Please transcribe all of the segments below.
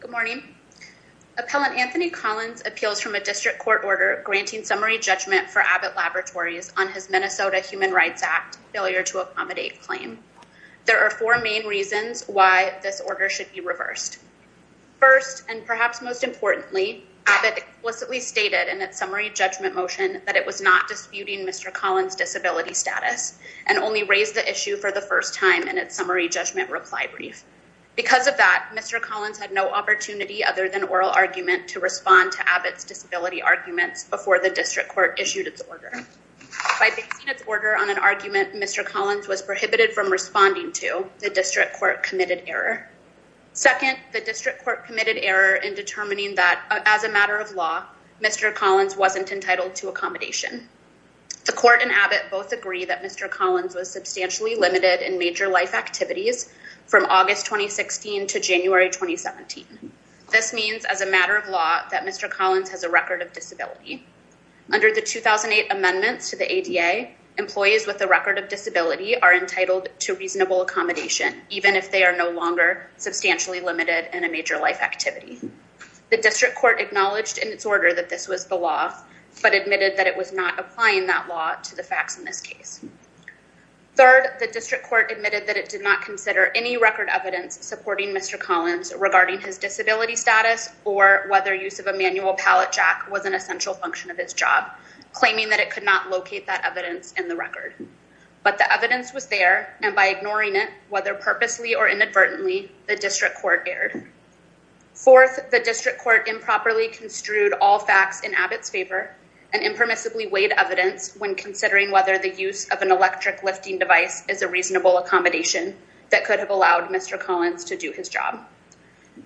Good morning. Appellant Anthony Collins appeals from a district court order granting summary judgment for Abbott Laboratories on his Minnesota Human Rights Act Failure to Accommodate claim. There are four main reasons why this order should be reversed. First, and perhaps most importantly, Abbott explicitly stated in its summary judgment motion that it was not disputing Mr. Collins' disability status and only raised the issue for the first time in its summary judgment reply brief. Because of that, Mr. Collins had no opportunity other than oral argument to respond to Abbott's disability arguments before the district court issued its order. By basing its order on an argument Mr. Collins was prohibited from responding to, the district court committed error. Second, the district court committed error in determining that as a matter of law, Mr. Collins wasn't entitled to accommodation. The court and Abbott both agree that Mr. Collins was substantially limited in major life activities from August 2016 to January 2017. This means as a matter of law that Mr. Collins has a record of disability. Under the 2008 amendments to the ADA, employees with a record of disability are entitled to reasonable accommodation, even if they are no longer substantially limited in a major life activity. The district court acknowledged in its order that this was the law, but admitted that it was not applying that law to the facts in this case. Third, the district court admitted that it did not consider any record evidence supporting Mr. Collins regarding his disability status or whether use of a manual pallet jack was an essential function of his job, claiming that it could not locate that evidence in the record. But the evidence was there, and by ignoring it, whether purposely or inadvertently, the district court erred. Fourth, the district court improperly construed all facts in Abbott's favor and impermissibly weighed evidence when considering whether the use of an electric lifting device is a reasonable accommodation that could have allowed Mr. Collins to do his job.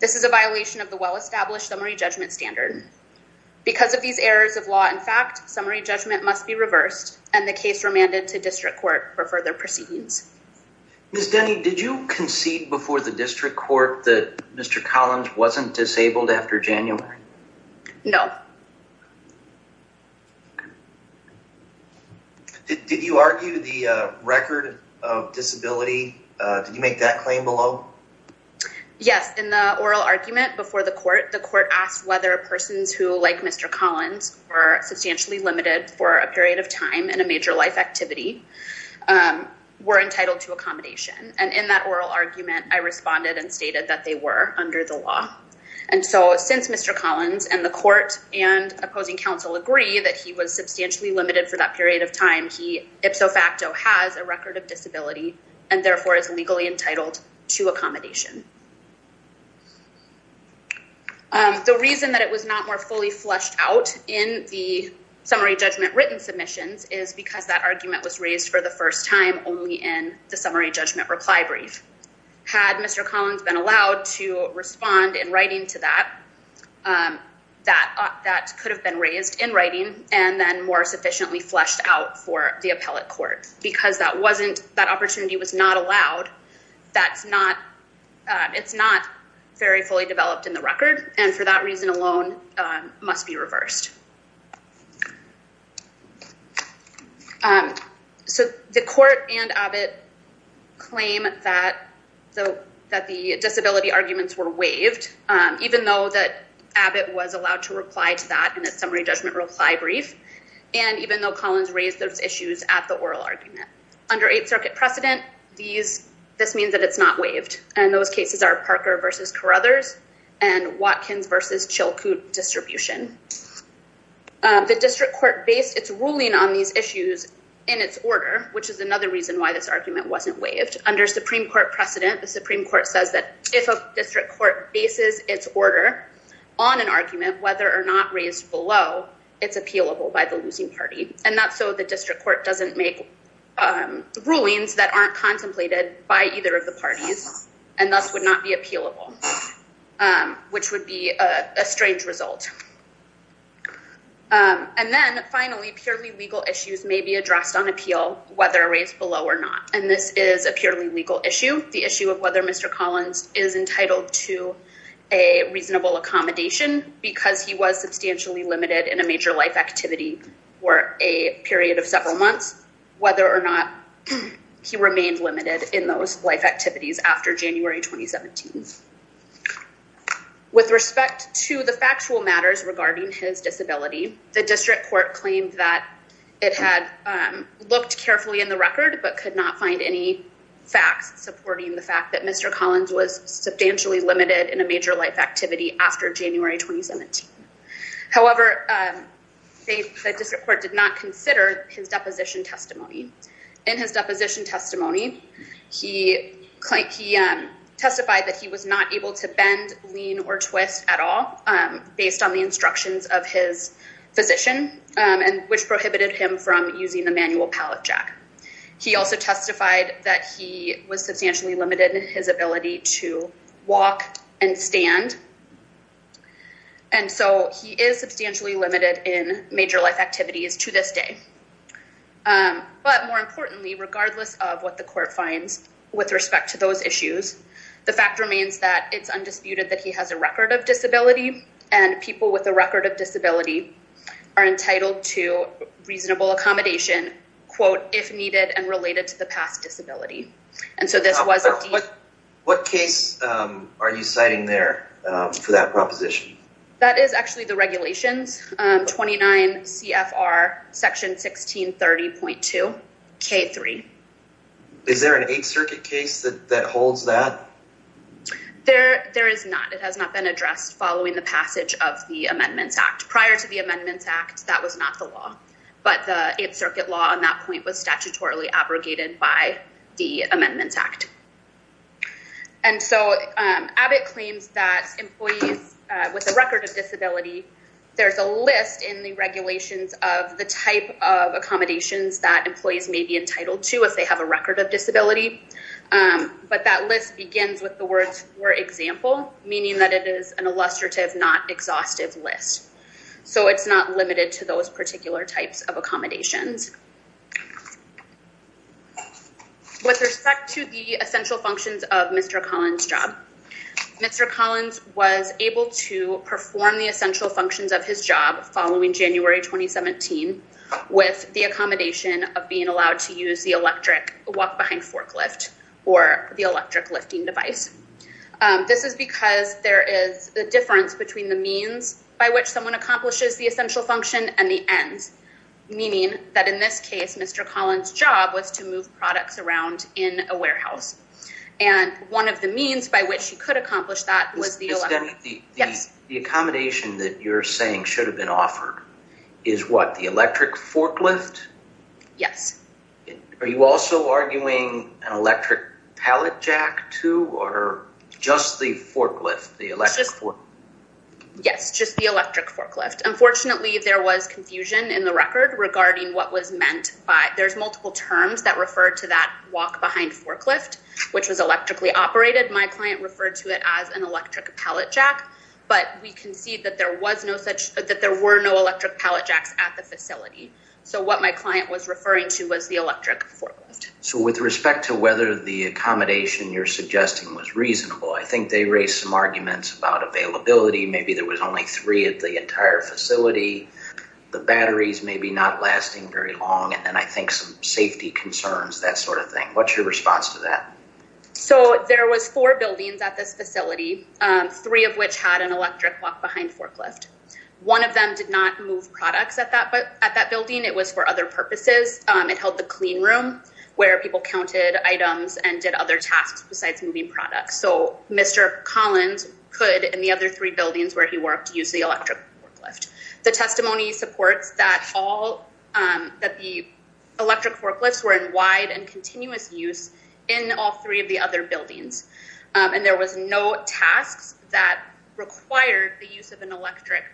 This is a violation of the well-established summary judgment standard. Because of these errors of law and fact, summary judgment must be reversed and the case remanded to district court for further proceedings. Ms. Denny, did you concede before the district court that Mr. Collins wasn't disabled after January? No. Did you argue the record of disability? Did you make that claim below? Yes. In the oral argument before the court, the court asked whether persons who, like Mr. Collins, were substantially limited for a period of time in a major life activity were entitled to accommodation. And in that oral argument, I responded and stated that they were under the law. And so since Mr. Collins and the court and opposing counsel agree that he was substantially limited for that period of time, he ipso facto has a record of disability and therefore is legally entitled to accommodation. The reason that it was not more fully flushed out in the summary judgment written submissions is because that argument was raised for the first time only in the summary judgment reply brief. Had Mr. Collins been allowed to respond in writing to that, that could have been raised in writing and then more sufficiently flushed out for the appellate court because that opportunity was not allowed. It's not very fully developed in the record and for that reason alone must be reversed. So the court and Abbott claim that the disability arguments were waived even though that Abbott was allowed to reply to that in a summary judgment reply brief and even though Collins raised those issues at the oral argument. Under Eighth Circuit precedent, this means that it's not waived and those cases are Parker versus Carruthers and Watkins versus Chilkoot distribution. The district court based its ruling on these issues in its order which is another reason why this argument wasn't waived. Under Supreme Court precedent, the Supreme Court says that if a district court bases its order on an argument, whether or not raised below, it's appealable by the losing party and that's so the district court doesn't make rulings that aren't contemplated by either of the parties and thus would not be appealable which would be a strange result. And then finally, purely legal issues may be addressed on appeal whether raised below or not and this is a purely legal issue. The issue of whether Mr. Collins is entitled to a reasonable accommodation because he was substantially limited in a major life activity for a period of several months, whether or not he remained limited in those life activities after January 2017. With respect to the factual matters regarding his disability, the district court claimed that it had looked carefully in the record but could not find any facts supporting the fact that Mr. Collins was substantially limited in a major life activity after January 2017. However, the district court did not consider his deposition testimony. In his deposition testimony, he testified that he was not able to bend, lean or twist at all based on the instructions of his physician which prohibited him from using the manual pallet jack. He also testified that he was substantially limited in his ability to walk and stand and so he is substantially limited in major life activities to this day. But more importantly, regardless of what the court finds with respect to those issues, the fact remains that it's undisputed that he has a record of disability and people with a record of disability are entitled to reasonable accommodation, quote, if needed and related to the past disability. And so this was... What case are you citing there for that proposition? That is actually the regulations, 29 CFR section 1630.2 K3. Is there an Eighth Circuit case that holds that? There is not. It has not been addressed following the passage of the Amendments Act. Prior to the Amendments Act, that was not the law. But the Eighth Circuit law on that point was statutorily abrogated by the Amendments Act. And so Abbott claims that employees with a record of disability, there's a list in the regulations of the type of accommodations that employees may be entitled to if they have a record of disability. But that list begins with the words, for example, meaning that it is an illustrative, not exhaustive list. With respect to the essential functions of Mr. Collins' job, Mr. Collins was able to perform the essential functions of his job following January 2017 with the accommodation of being allowed to use the electric walk-behind forklift or the electric lifting device. This is because there is a difference between the means meaning that in this case, Mr. Collins' job was to move products around in a warehouse. And one of the means by which he could accomplish that was the electric... The accommodation that you're saying should have been offered is what, the electric forklift? Yes. Are you also arguing an electric pallet jack too, or just the forklift, the electric forklift? Yes, just the electric forklift. Unfortunately, there was confusion in the record regarding what was meant by... There's multiple terms that refer to that walk-behind forklift, which was electrically operated. My client referred to it as an electric pallet jack, but we concede that there were no electric pallet jacks at the facility. So what my client was referring to was the electric forklift. So with respect to whether the accommodation you're suggesting was reasonable, I think they raised some arguments about availability. Maybe there was only three at the entire facility, the batteries maybe not lasting very long, and then I think some safety concerns, that sort of thing. What's your response to that? So there was four buildings at this facility, three of which had an electric walk-behind forklift. One of them did not move products at that building. It was for other purposes. It held the clean room where people counted items and did other tasks besides moving products. So Mr. Collins could, in the other three buildings where he worked, use the electric forklift. The testimony supports that the electric forklifts were in wide and continuous use in all three of the other buildings, and there was no tasks that required the use of an electric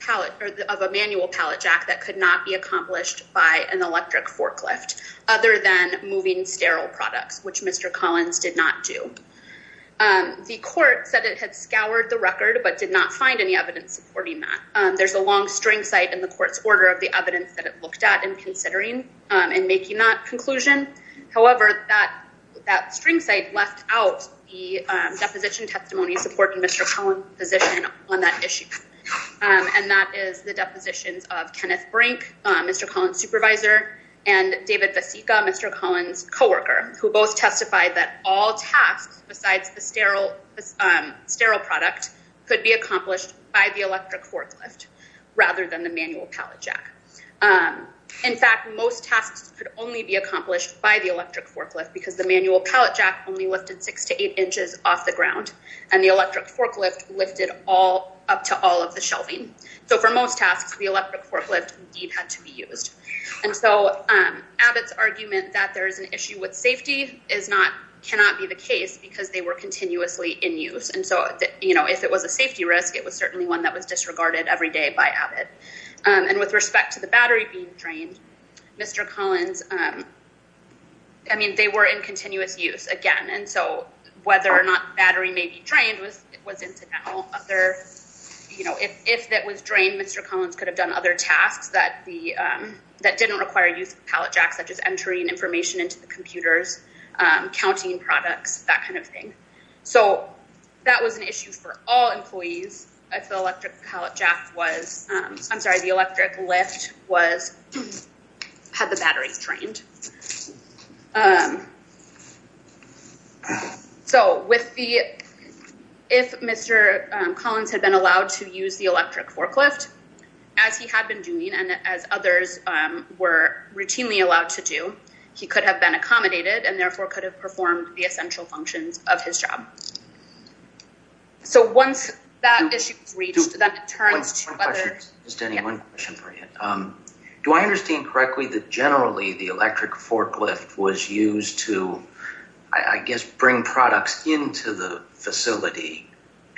pallet, of a manual pallet jack that could not be accomplished by an electric forklift, other than moving sterile products, which Mr. Collins did not do. The court said it had scoured the record but did not find any evidence supporting that. There's a long string cite in the court's order of the evidence that it looked at in considering and making that conclusion. However, that string cite left out the deposition testimony supporting Mr. Collins' position on that issue, and that is the depositions of Kenneth Brink, Mr. Collins' supervisor, and David Vasica, Mr. Collins' co-worker, who both testified that all tasks besides the sterile product could be accomplished by the electric forklift, rather than the manual pallet jack. In fact, most tasks could only be accomplished by the electric forklift because the manual pallet jack only lifted six to eight inches off the ground, and the electric forklift lifted up to all of the shelving. So for most tasks, the electric forklift, indeed, had to be used. And so Abbott's argument that there is an issue with safety cannot be the case because they were continuously in use. And so, you know, if it was a safety risk, it was certainly one that was disregarded every day by Abbott. And with respect to the battery being drained, Mr. Collins, I mean, they were in continuous use again, and so whether or not the battery may be drained was into now. If that was drained, Mr. Collins could have done other tasks that didn't require use of pallet jacks, such as entering information into the computers, counting products, that kind of thing. So that was an issue for all employees if the electric lift had the batteries drained. So if Mr. Collins had been allowed to use the electric forklift, as he had been doing and as others were routinely allowed to do, he could have been accommodated and, therefore, could have performed the essential functions of his job. So once that issue was reached, then it turns to whether— One question. Just one question for you. Do I understand correctly that generally the electric forklift was used to, I guess, bring products into the facility,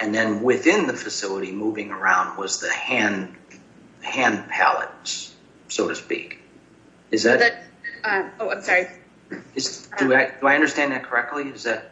and then within the facility moving around was the hand pallets, so to speak? Is that— Oh, I'm sorry. Do I understand that correctly? Is that—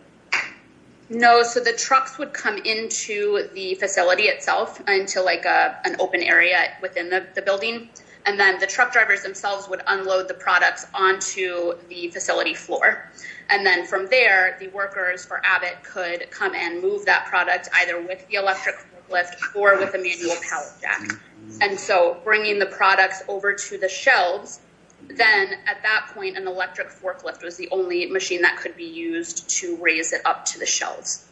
No. So the trucks would come into the facility itself, into like an open area within the building, and then the truck drivers themselves would unload the products onto the facility floor. And then from there, the workers for Abbott could come and move that product either with the electric forklift or with a manual pallet jack. And so bringing the products over to the shelves, then at that point, an electric forklift was the only machine that could be used to raise it up to the shelves.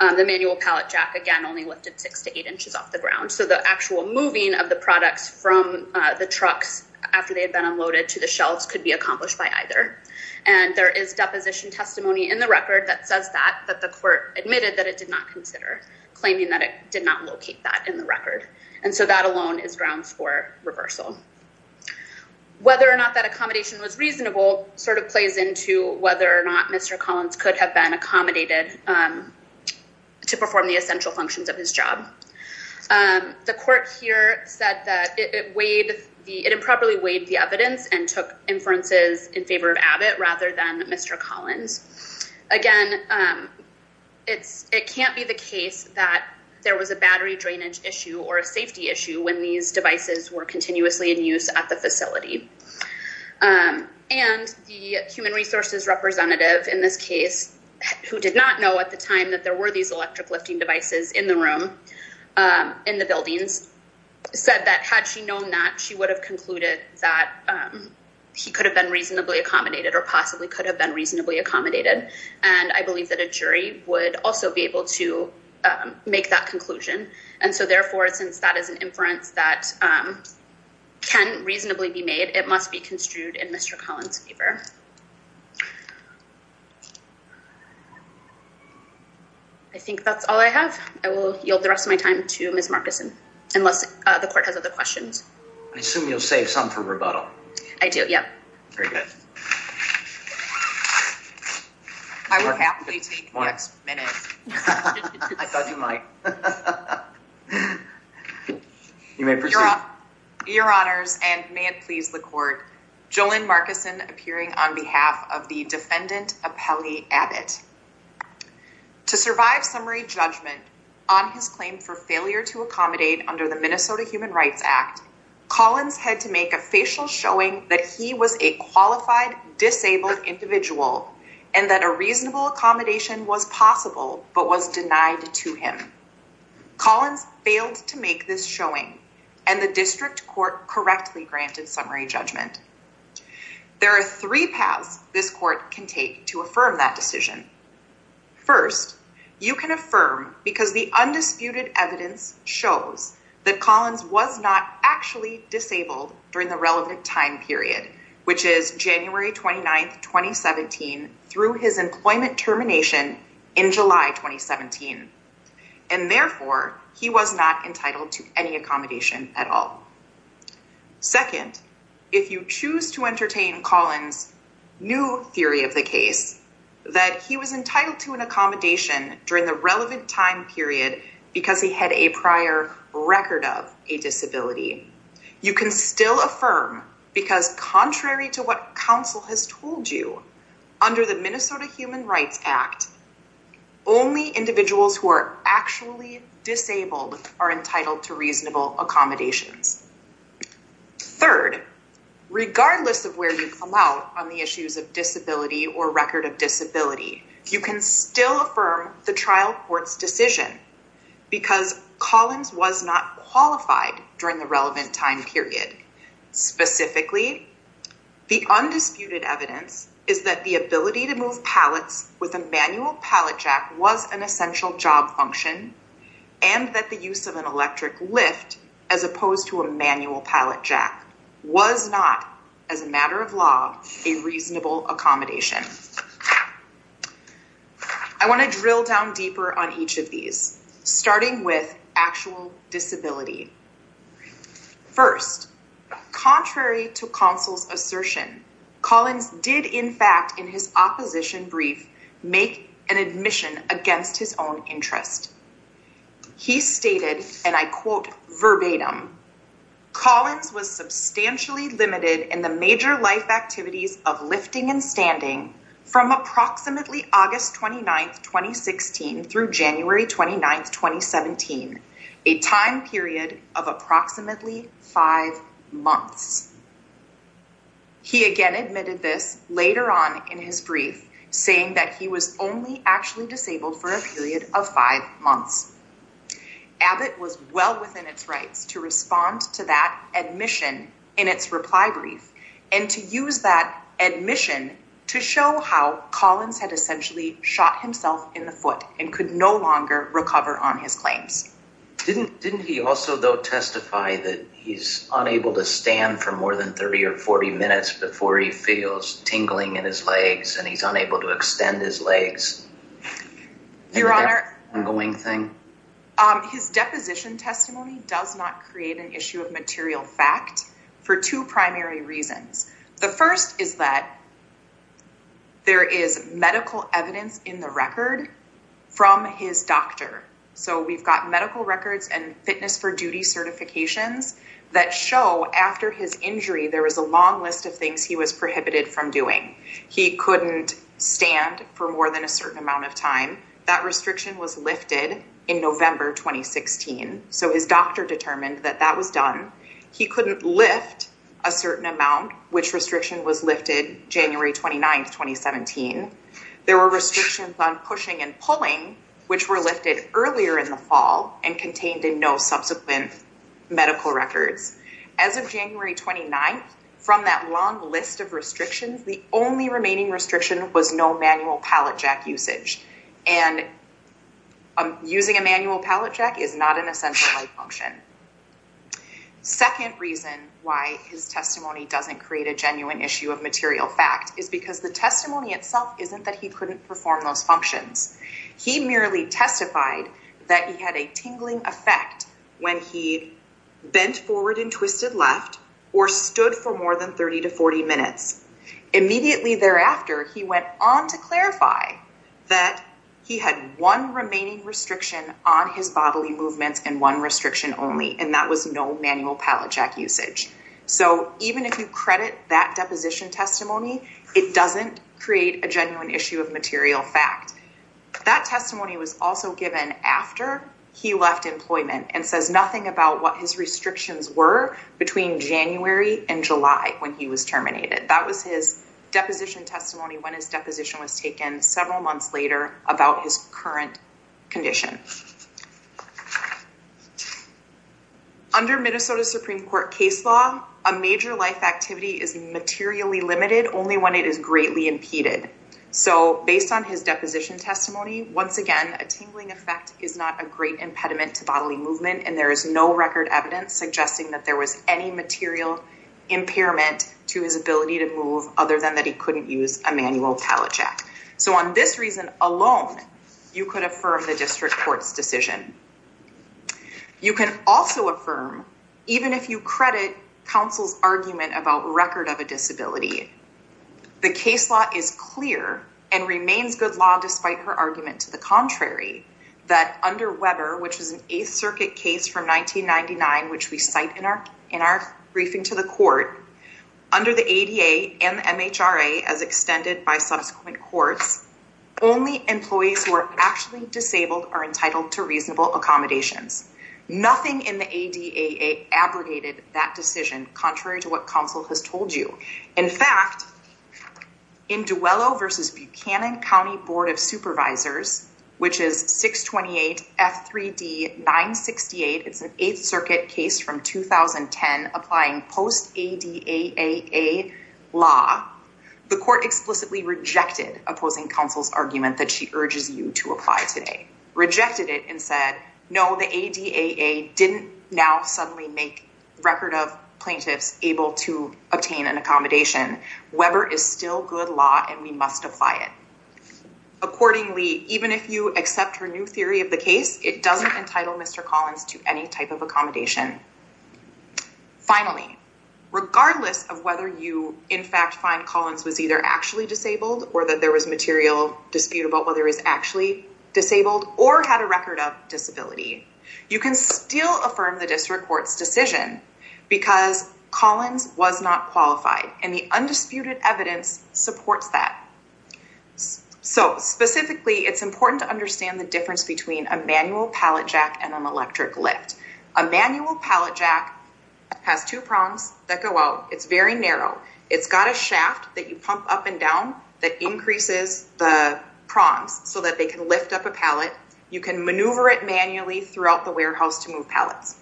The manual pallet jack, again, only lifted six to eight inches off the ground. So the actual moving of the products from the trucks after they had been unloaded to the shelves could be accomplished by either. And there is deposition testimony in the record that says that, that the court admitted that it did not consider, claiming that it did not locate that in the record. And so that alone is grounds for reversal. Whether or not that accommodation was reasonable sort of plays into whether or not Mr. Collins could have been accommodated to perform the essential functions of his job. The court here said that it weighed, it improperly weighed the evidence and took inferences in favor of Abbott rather than Mr. Collins. Again, it can't be the case that there was a battery drainage issue or a safety issue when these devices were continuously in use at the facility. And the human resources representative in this case, who did not know at the time that there were these electric lifting devices in the room, in the buildings, said that had she known that, she would have concluded that he could have been reasonably accommodated or possibly could have been reasonably accommodated. And I believe that a jury would also be able to make that conclusion. And so therefore, since that is an inference that can reasonably be made, it must be construed in Mr. Collins' favor. I think that's all I have. I will yield the rest of my time to Ms. Markison, unless the court has other questions. I assume you'll save some for rebuttal. I do, yeah. Very good. I will happily take the next minute. I thought you might. You may proceed. Your honors, and may it please the court, JoLynn Markison appearing on behalf of the defendant, Apelli Abbott. To survive summary judgment on his claim for failure to accommodate under the Minnesota Human Rights Act, Collins had to make a facial showing that he was a qualified, disabled individual and that a reasonable accommodation was possible but was denied to him. Collins failed to make this showing and the district court correctly granted summary judgment. There are three paths this court can take to affirm that decision. First, you can affirm because the undisputed evidence shows that Collins was not actually disabled during the relevant time period, which is January 29, 2017, through his employment termination in July 2017. And therefore, he was not entitled to any accommodation at all. Second, if you choose to entertain Collins' new theory of the case, that he was entitled to an accommodation during the relevant time period because he had a prior record of a disability, you can still affirm because contrary to what counsel has told you, under the Minnesota Human Rights Act, only individuals who are actually disabled are entitled to reasonable accommodations. Third, regardless of where you come out on the issues of disability or record of disability, you can still affirm the trial court's decision because Collins was not qualified during the relevant time period. Specifically, the undisputed evidence is that the ability to move pallets with a manual pallet jack was an essential job function and that the use of an electric lift as opposed to a manual pallet jack was not, as a matter of law, a reasonable accommodation. I want to drill down deeper on each of these, starting with actual disability. First, contrary to counsel's assertion, Collins did, in fact, in his opposition brief, make an admission against his own interest. He stated, and I quote verbatim, Collins was substantially limited in the major life activities of lifting and standing from approximately August 29th, 2016 through January 29th, 2017, a time period of approximately five months. He again admitted this later on in his brief, saying that he was only actually disabled for a period of five months. Abbott was well within its rights to respond to that admission in its reply brief and to use that admission to show how Collins had essentially shot himself in the foot and could no longer recover on his claims. Didn't he also, though, testify that he's unable to stand for more than 30 or 40 minutes before he feels tingling in his legs and he's unable to extend his legs? Your Honor, his deposition testimony does not create an issue of material fact for two primary reasons. The first is that there is medical evidence in the record from his doctor. So we've got medical records and fitness for duty certifications that show after his injury, there was a long list of things he was prohibited from doing. He couldn't stand for more than a certain amount of time. That restriction was lifted in November, 2016. So his doctor determined that that was done. He couldn't lift a certain amount, which restriction was lifted January 29th, 2017. There were restrictions on pushing and pulling, which were lifted earlier in the fall and contained in no subsequent medical records. As of January 29th, from that long list of restrictions, the only remaining restriction was no manual pallet jack usage. And using a manual pallet jack is not an essential life function. Second reason why his testimony doesn't create a genuine issue of material fact is because the testimony itself isn't that he couldn't perform those functions. He merely testified that he had a tingling effect when he bent forward and twisted left or stood for more than 30 to 40 minutes. Immediately thereafter, he went on to clarify that he had one remaining restriction on his bodily movements and one restriction only, and that was no manual pallet jack usage. So even if you credit that deposition testimony, it doesn't create a genuine issue of material fact. That testimony was also given after he left employment and says nothing about what his restrictions were between January and July when he was terminated. That was his deposition testimony when his deposition was taken about his current condition. Under Minnesota Supreme Court case law, a major life activity is materially limited only when it is greatly impeded. So based on his deposition testimony, once again, a tingling effect is not a great impediment to bodily movement, and there is no record evidence suggesting that there was any material impairment to his ability to move other than that he couldn't use a manual pallet jack. So on this reason alone, you could affirm the district court's decision. You can also affirm, even if you credit counsel's argument about record of a disability, the case law is clear and remains good law despite her argument to the contrary, that under Weber, which is an Eighth Circuit case from 1999, under the ADA and MHRA, as extended by subsequent courts, only employees who are actually disabled are entitled to reasonable accommodations. Nothing in the ADA abrogated that decision, contrary to what counsel has told you. In fact, in Duello versus Buchanan County Board of Supervisors, which is 628 F3D 968, it's an Eighth Circuit case from 2010, applying post-ADAAA law, the court explicitly rejected opposing counsel's argument that she urges you to apply today, rejected it and said, no, the ADAAA didn't now suddenly make record of plaintiffs able to obtain an accommodation. Weber is still good law and we must apply it. Accordingly, even if you accept her new theory of the case, it doesn't entitle Mr. Collins to any type of accommodation. Finally, regardless of whether you in fact find Collins was either actually disabled or that there was material dispute about whether he was actually disabled or had a record of disability, you can still affirm the district court's decision because Collins was not qualified and the undisputed evidence supports that. Specifically, it's important to understand the difference between a manual pallet jack and an electric lift. A manual pallet jack has two prongs that go out. It's very narrow. It's got a shaft that you pump up and down that increases the prongs so that they can lift up a pallet. You can maneuver it manually throughout the warehouse to move pallets.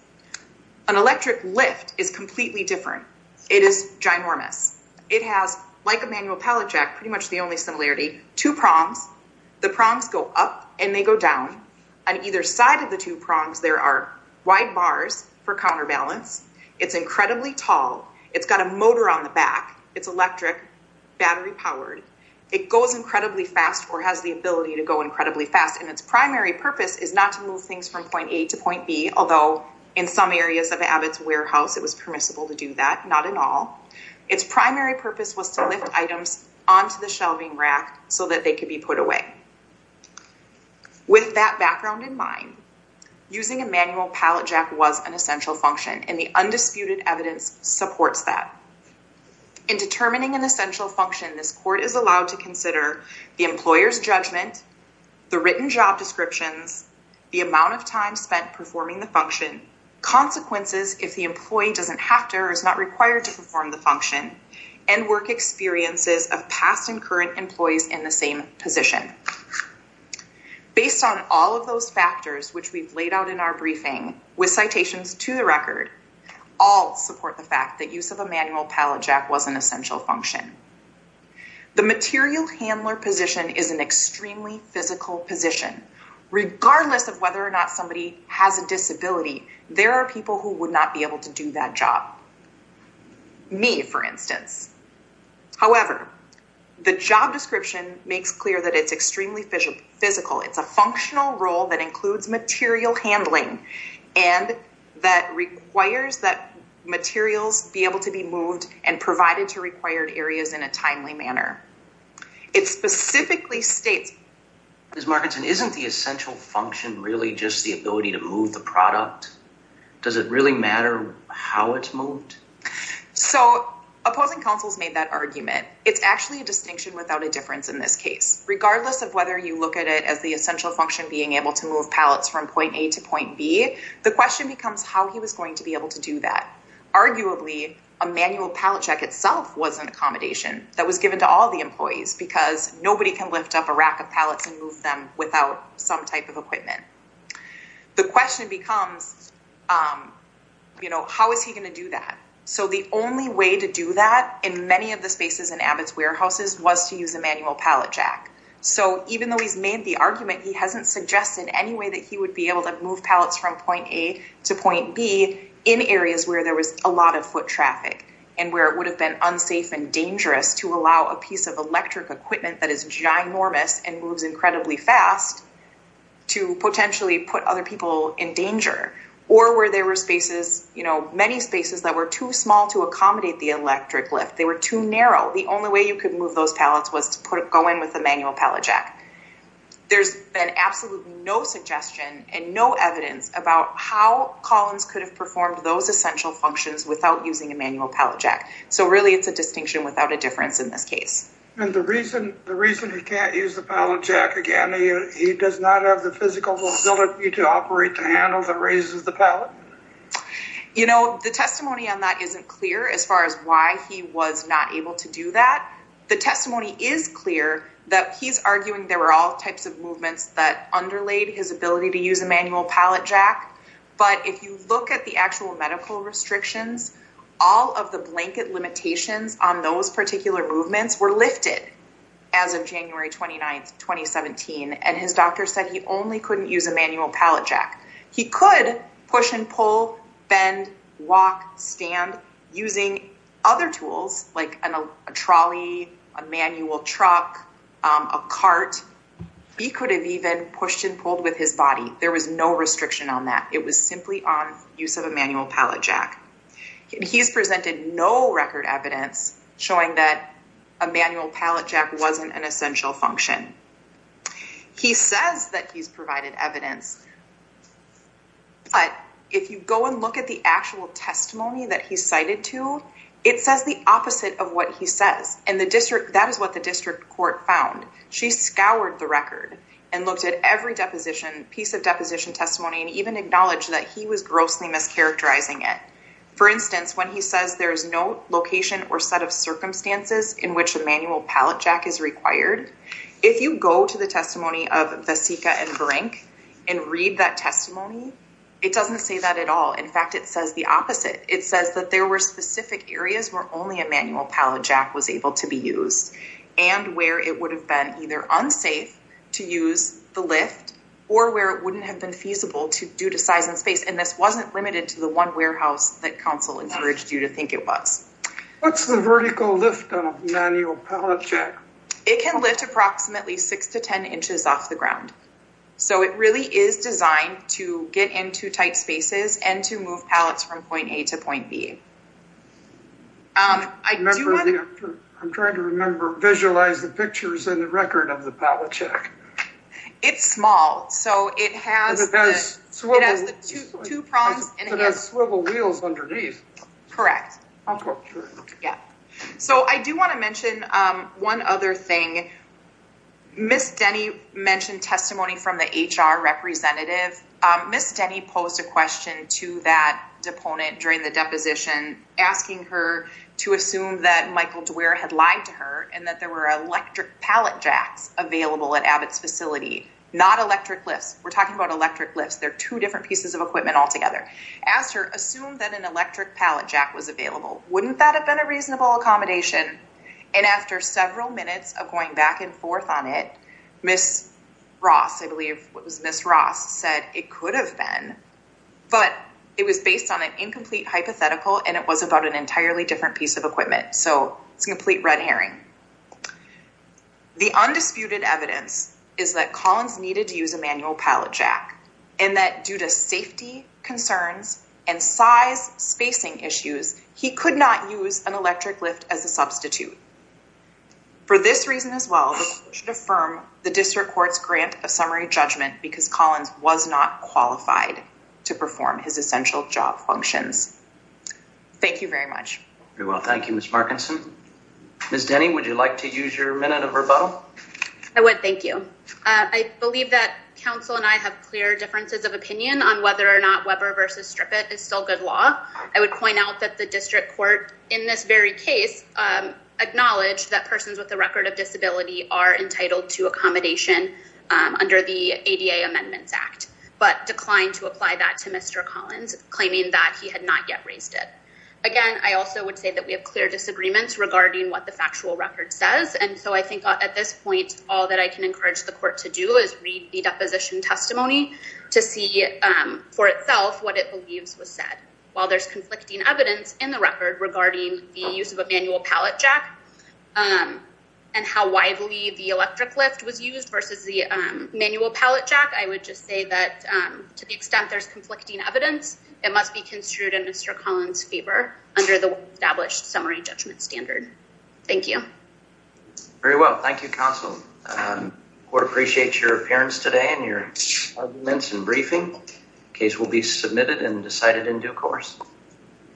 An electric lift is completely different. It is ginormous. It has, like a manual pallet jack, pretty much the only similarity, two prongs. The prongs go up and they go down. On either side of the two prongs, there are wide bars for counterbalance. It's incredibly tall. It's got a motor on the back. It's electric, battery-powered. It goes incredibly fast or has the ability to go incredibly fast, and its primary purpose is not to move things from point A to point B, although in some areas of Abbott's warehouse, it was permissible to do that, not in all. Its primary purpose was to lift items onto the shelving rack so that they could be put away. With that background in mind, using a manual pallet jack was an essential function, and the undisputed evidence supports that. In determining an essential function, this court is allowed to consider the employer's judgment, the written job descriptions, the amount of time spent performing the function, consequences if the employee doesn't have to or is not required to perform the function, and work experiences of past and current employees in the same position. Based on all of those factors, which we've laid out in our briefing, with citations to the record, all support the fact that use of a manual pallet jack was an essential function. The material handler position is an extremely physical position. Regardless of whether or not somebody has a disability, there are people who would not be able to do that job. Me, for instance. However, the job description makes clear that it's extremely physical. It's a functional role that includes material handling and that requires that materials be able to be moved and provided to required areas in a timely manner. It specifically states... Ms. Markinson, isn't the essential function really just the ability to move the product? Does it really matter how it's moved? So, opposing counsels made that argument. It's actually a distinction without a difference in this case. Regardless of whether you look at it as the essential function being able to move pallets from point A to point B, the question becomes how he was going to be able to do that. Arguably, a manual pallet jack itself was an accommodation that was given to all the employees because nobody can lift up a rack of pallets and move them without some type of equipment. The question becomes, you know, how is he going to do that? So, the only way to do that in many of the spaces in Abbott's warehouses was to use a manual pallet jack. So, even though he's made the argument, he hasn't suggested any way that he would be able to move pallets from point A to point B in areas where there was a lot of foot traffic and where it would have been unsafe and dangerous to allow a piece of electric equipment that is ginormous and moves incredibly fast to potentially put other people in danger or where there were many spaces that were too small to accommodate the electric lift. They were too narrow. The only way you could move those pallets was to go in with a manual pallet jack. There's been absolutely no suggestion and no evidence about how Collins could have performed those essential functions without using a manual pallet jack. So, really, it's a distinction without a difference in this case. And the reason he can't use the pallet jack again, he does not have the physical ability to operate the handle that raises the pallet? You know, the testimony on that isn't clear as far as why he was not able to do that. The testimony is clear that he's arguing there were all types of movements that underlayed his ability to use a manual pallet jack. But if you look at the actual medical restrictions, all of the blanket limitations on those particular movements were lifted as of January 29th, 2017. And his doctor said he only couldn't use a manual pallet jack. He could push and pull, bend, walk, stand using other tools like a trolley, a manual truck, a cart. He could have even pushed and pulled with his body. There was no restriction on that. It was simply on use of a manual pallet jack. He's presented no record evidence showing that a manual pallet jack wasn't an essential function. He says that he's provided evidence. But if you go and look at the actual testimony that he cited to, it says the opposite of what he says. And that is what the district court found. She scoured the record and looked at every piece of deposition testimony and even acknowledged that he was grossly mischaracterizing it. For instance, when he says there's no location or set of circumstances in which a manual pallet jack is required, if you go to the testimony of Vasika and Verank and read that testimony, it doesn't say that at all. In fact, it says the opposite. It says that there were specific areas where only a manual pallet jack was able to be used and where it would have been either unsafe to use the lift or where it wouldn't have been feasible due to size and space. And this wasn't limited to the one warehouse that council encouraged you to think it was. What's the vertical lift on a manual pallet jack? It can lift approximately six to 10 inches off the ground. So it really is designed to get into tight spaces and to move pallets from point A to point B. I'm trying to remember, visualize the pictures in the record of the pallet jack. It's small. It has two prongs. It has swivel wheels underneath. Correct. So I do want to mention one other thing. Ms. Denny mentioned testimony from the HR representative. Ms. Denny posed a question to that deponent during the deposition, asking her to assume that Michael Dwyer had lied to her and that there were electric pallet jacks available at Abbott's facility, not electric lifts. We're talking about electric lifts. There are two different pieces of equipment altogether. Asked her, assume that an electric pallet jack was available. Wouldn't that have been a reasonable accommodation? And after several minutes of going back and forth on it, Ms. Ross, I believe it was Ms. Ross said it could have been, but it was based on an incomplete hypothetical and it was about an entirely different piece of equipment. So it's a complete red herring. The undisputed evidence is that Collins needed to use a manual pallet jack and that due to safety concerns and size spacing issues, he could not use an electric lift as a substitute for this reason as well. The court should affirm the district court's grant of summary judgment because Collins was not qualified to perform his essential job functions. Thank you very much. Very well. Thank you, Ms. Markinson. Ms. Denny, would you like to use your minute of rebuttal? I would. Thank you. I believe that council and I have clear differences of opinion on whether or not Weber versus strip it is still good law. I would point out that the district court in this very case, acknowledged that persons with a record of disability are entitled to accommodation under the ADA amendments act, but declined to apply that to Mr. Collins claiming that he had not yet raised it again. I also would say that we have clear disagreements regarding what the factual record says. And so I think at this point, all that I can encourage the court to do is read the deposition testimony to see for itself, what it believes was said while there's conflicting evidence in the record regarding the use of a manual pallet jack and how widely the electric lift was used versus the manual pallet jack. I would just say that to the extent there's conflicting evidence, it must be construed in Mr. Collins fever under the established summary judgment standard. Thank you. Very well. Thank you. Counsel. Um, we appreciate your appearance today and your arguments and briefing case will be submitted and decided in due course.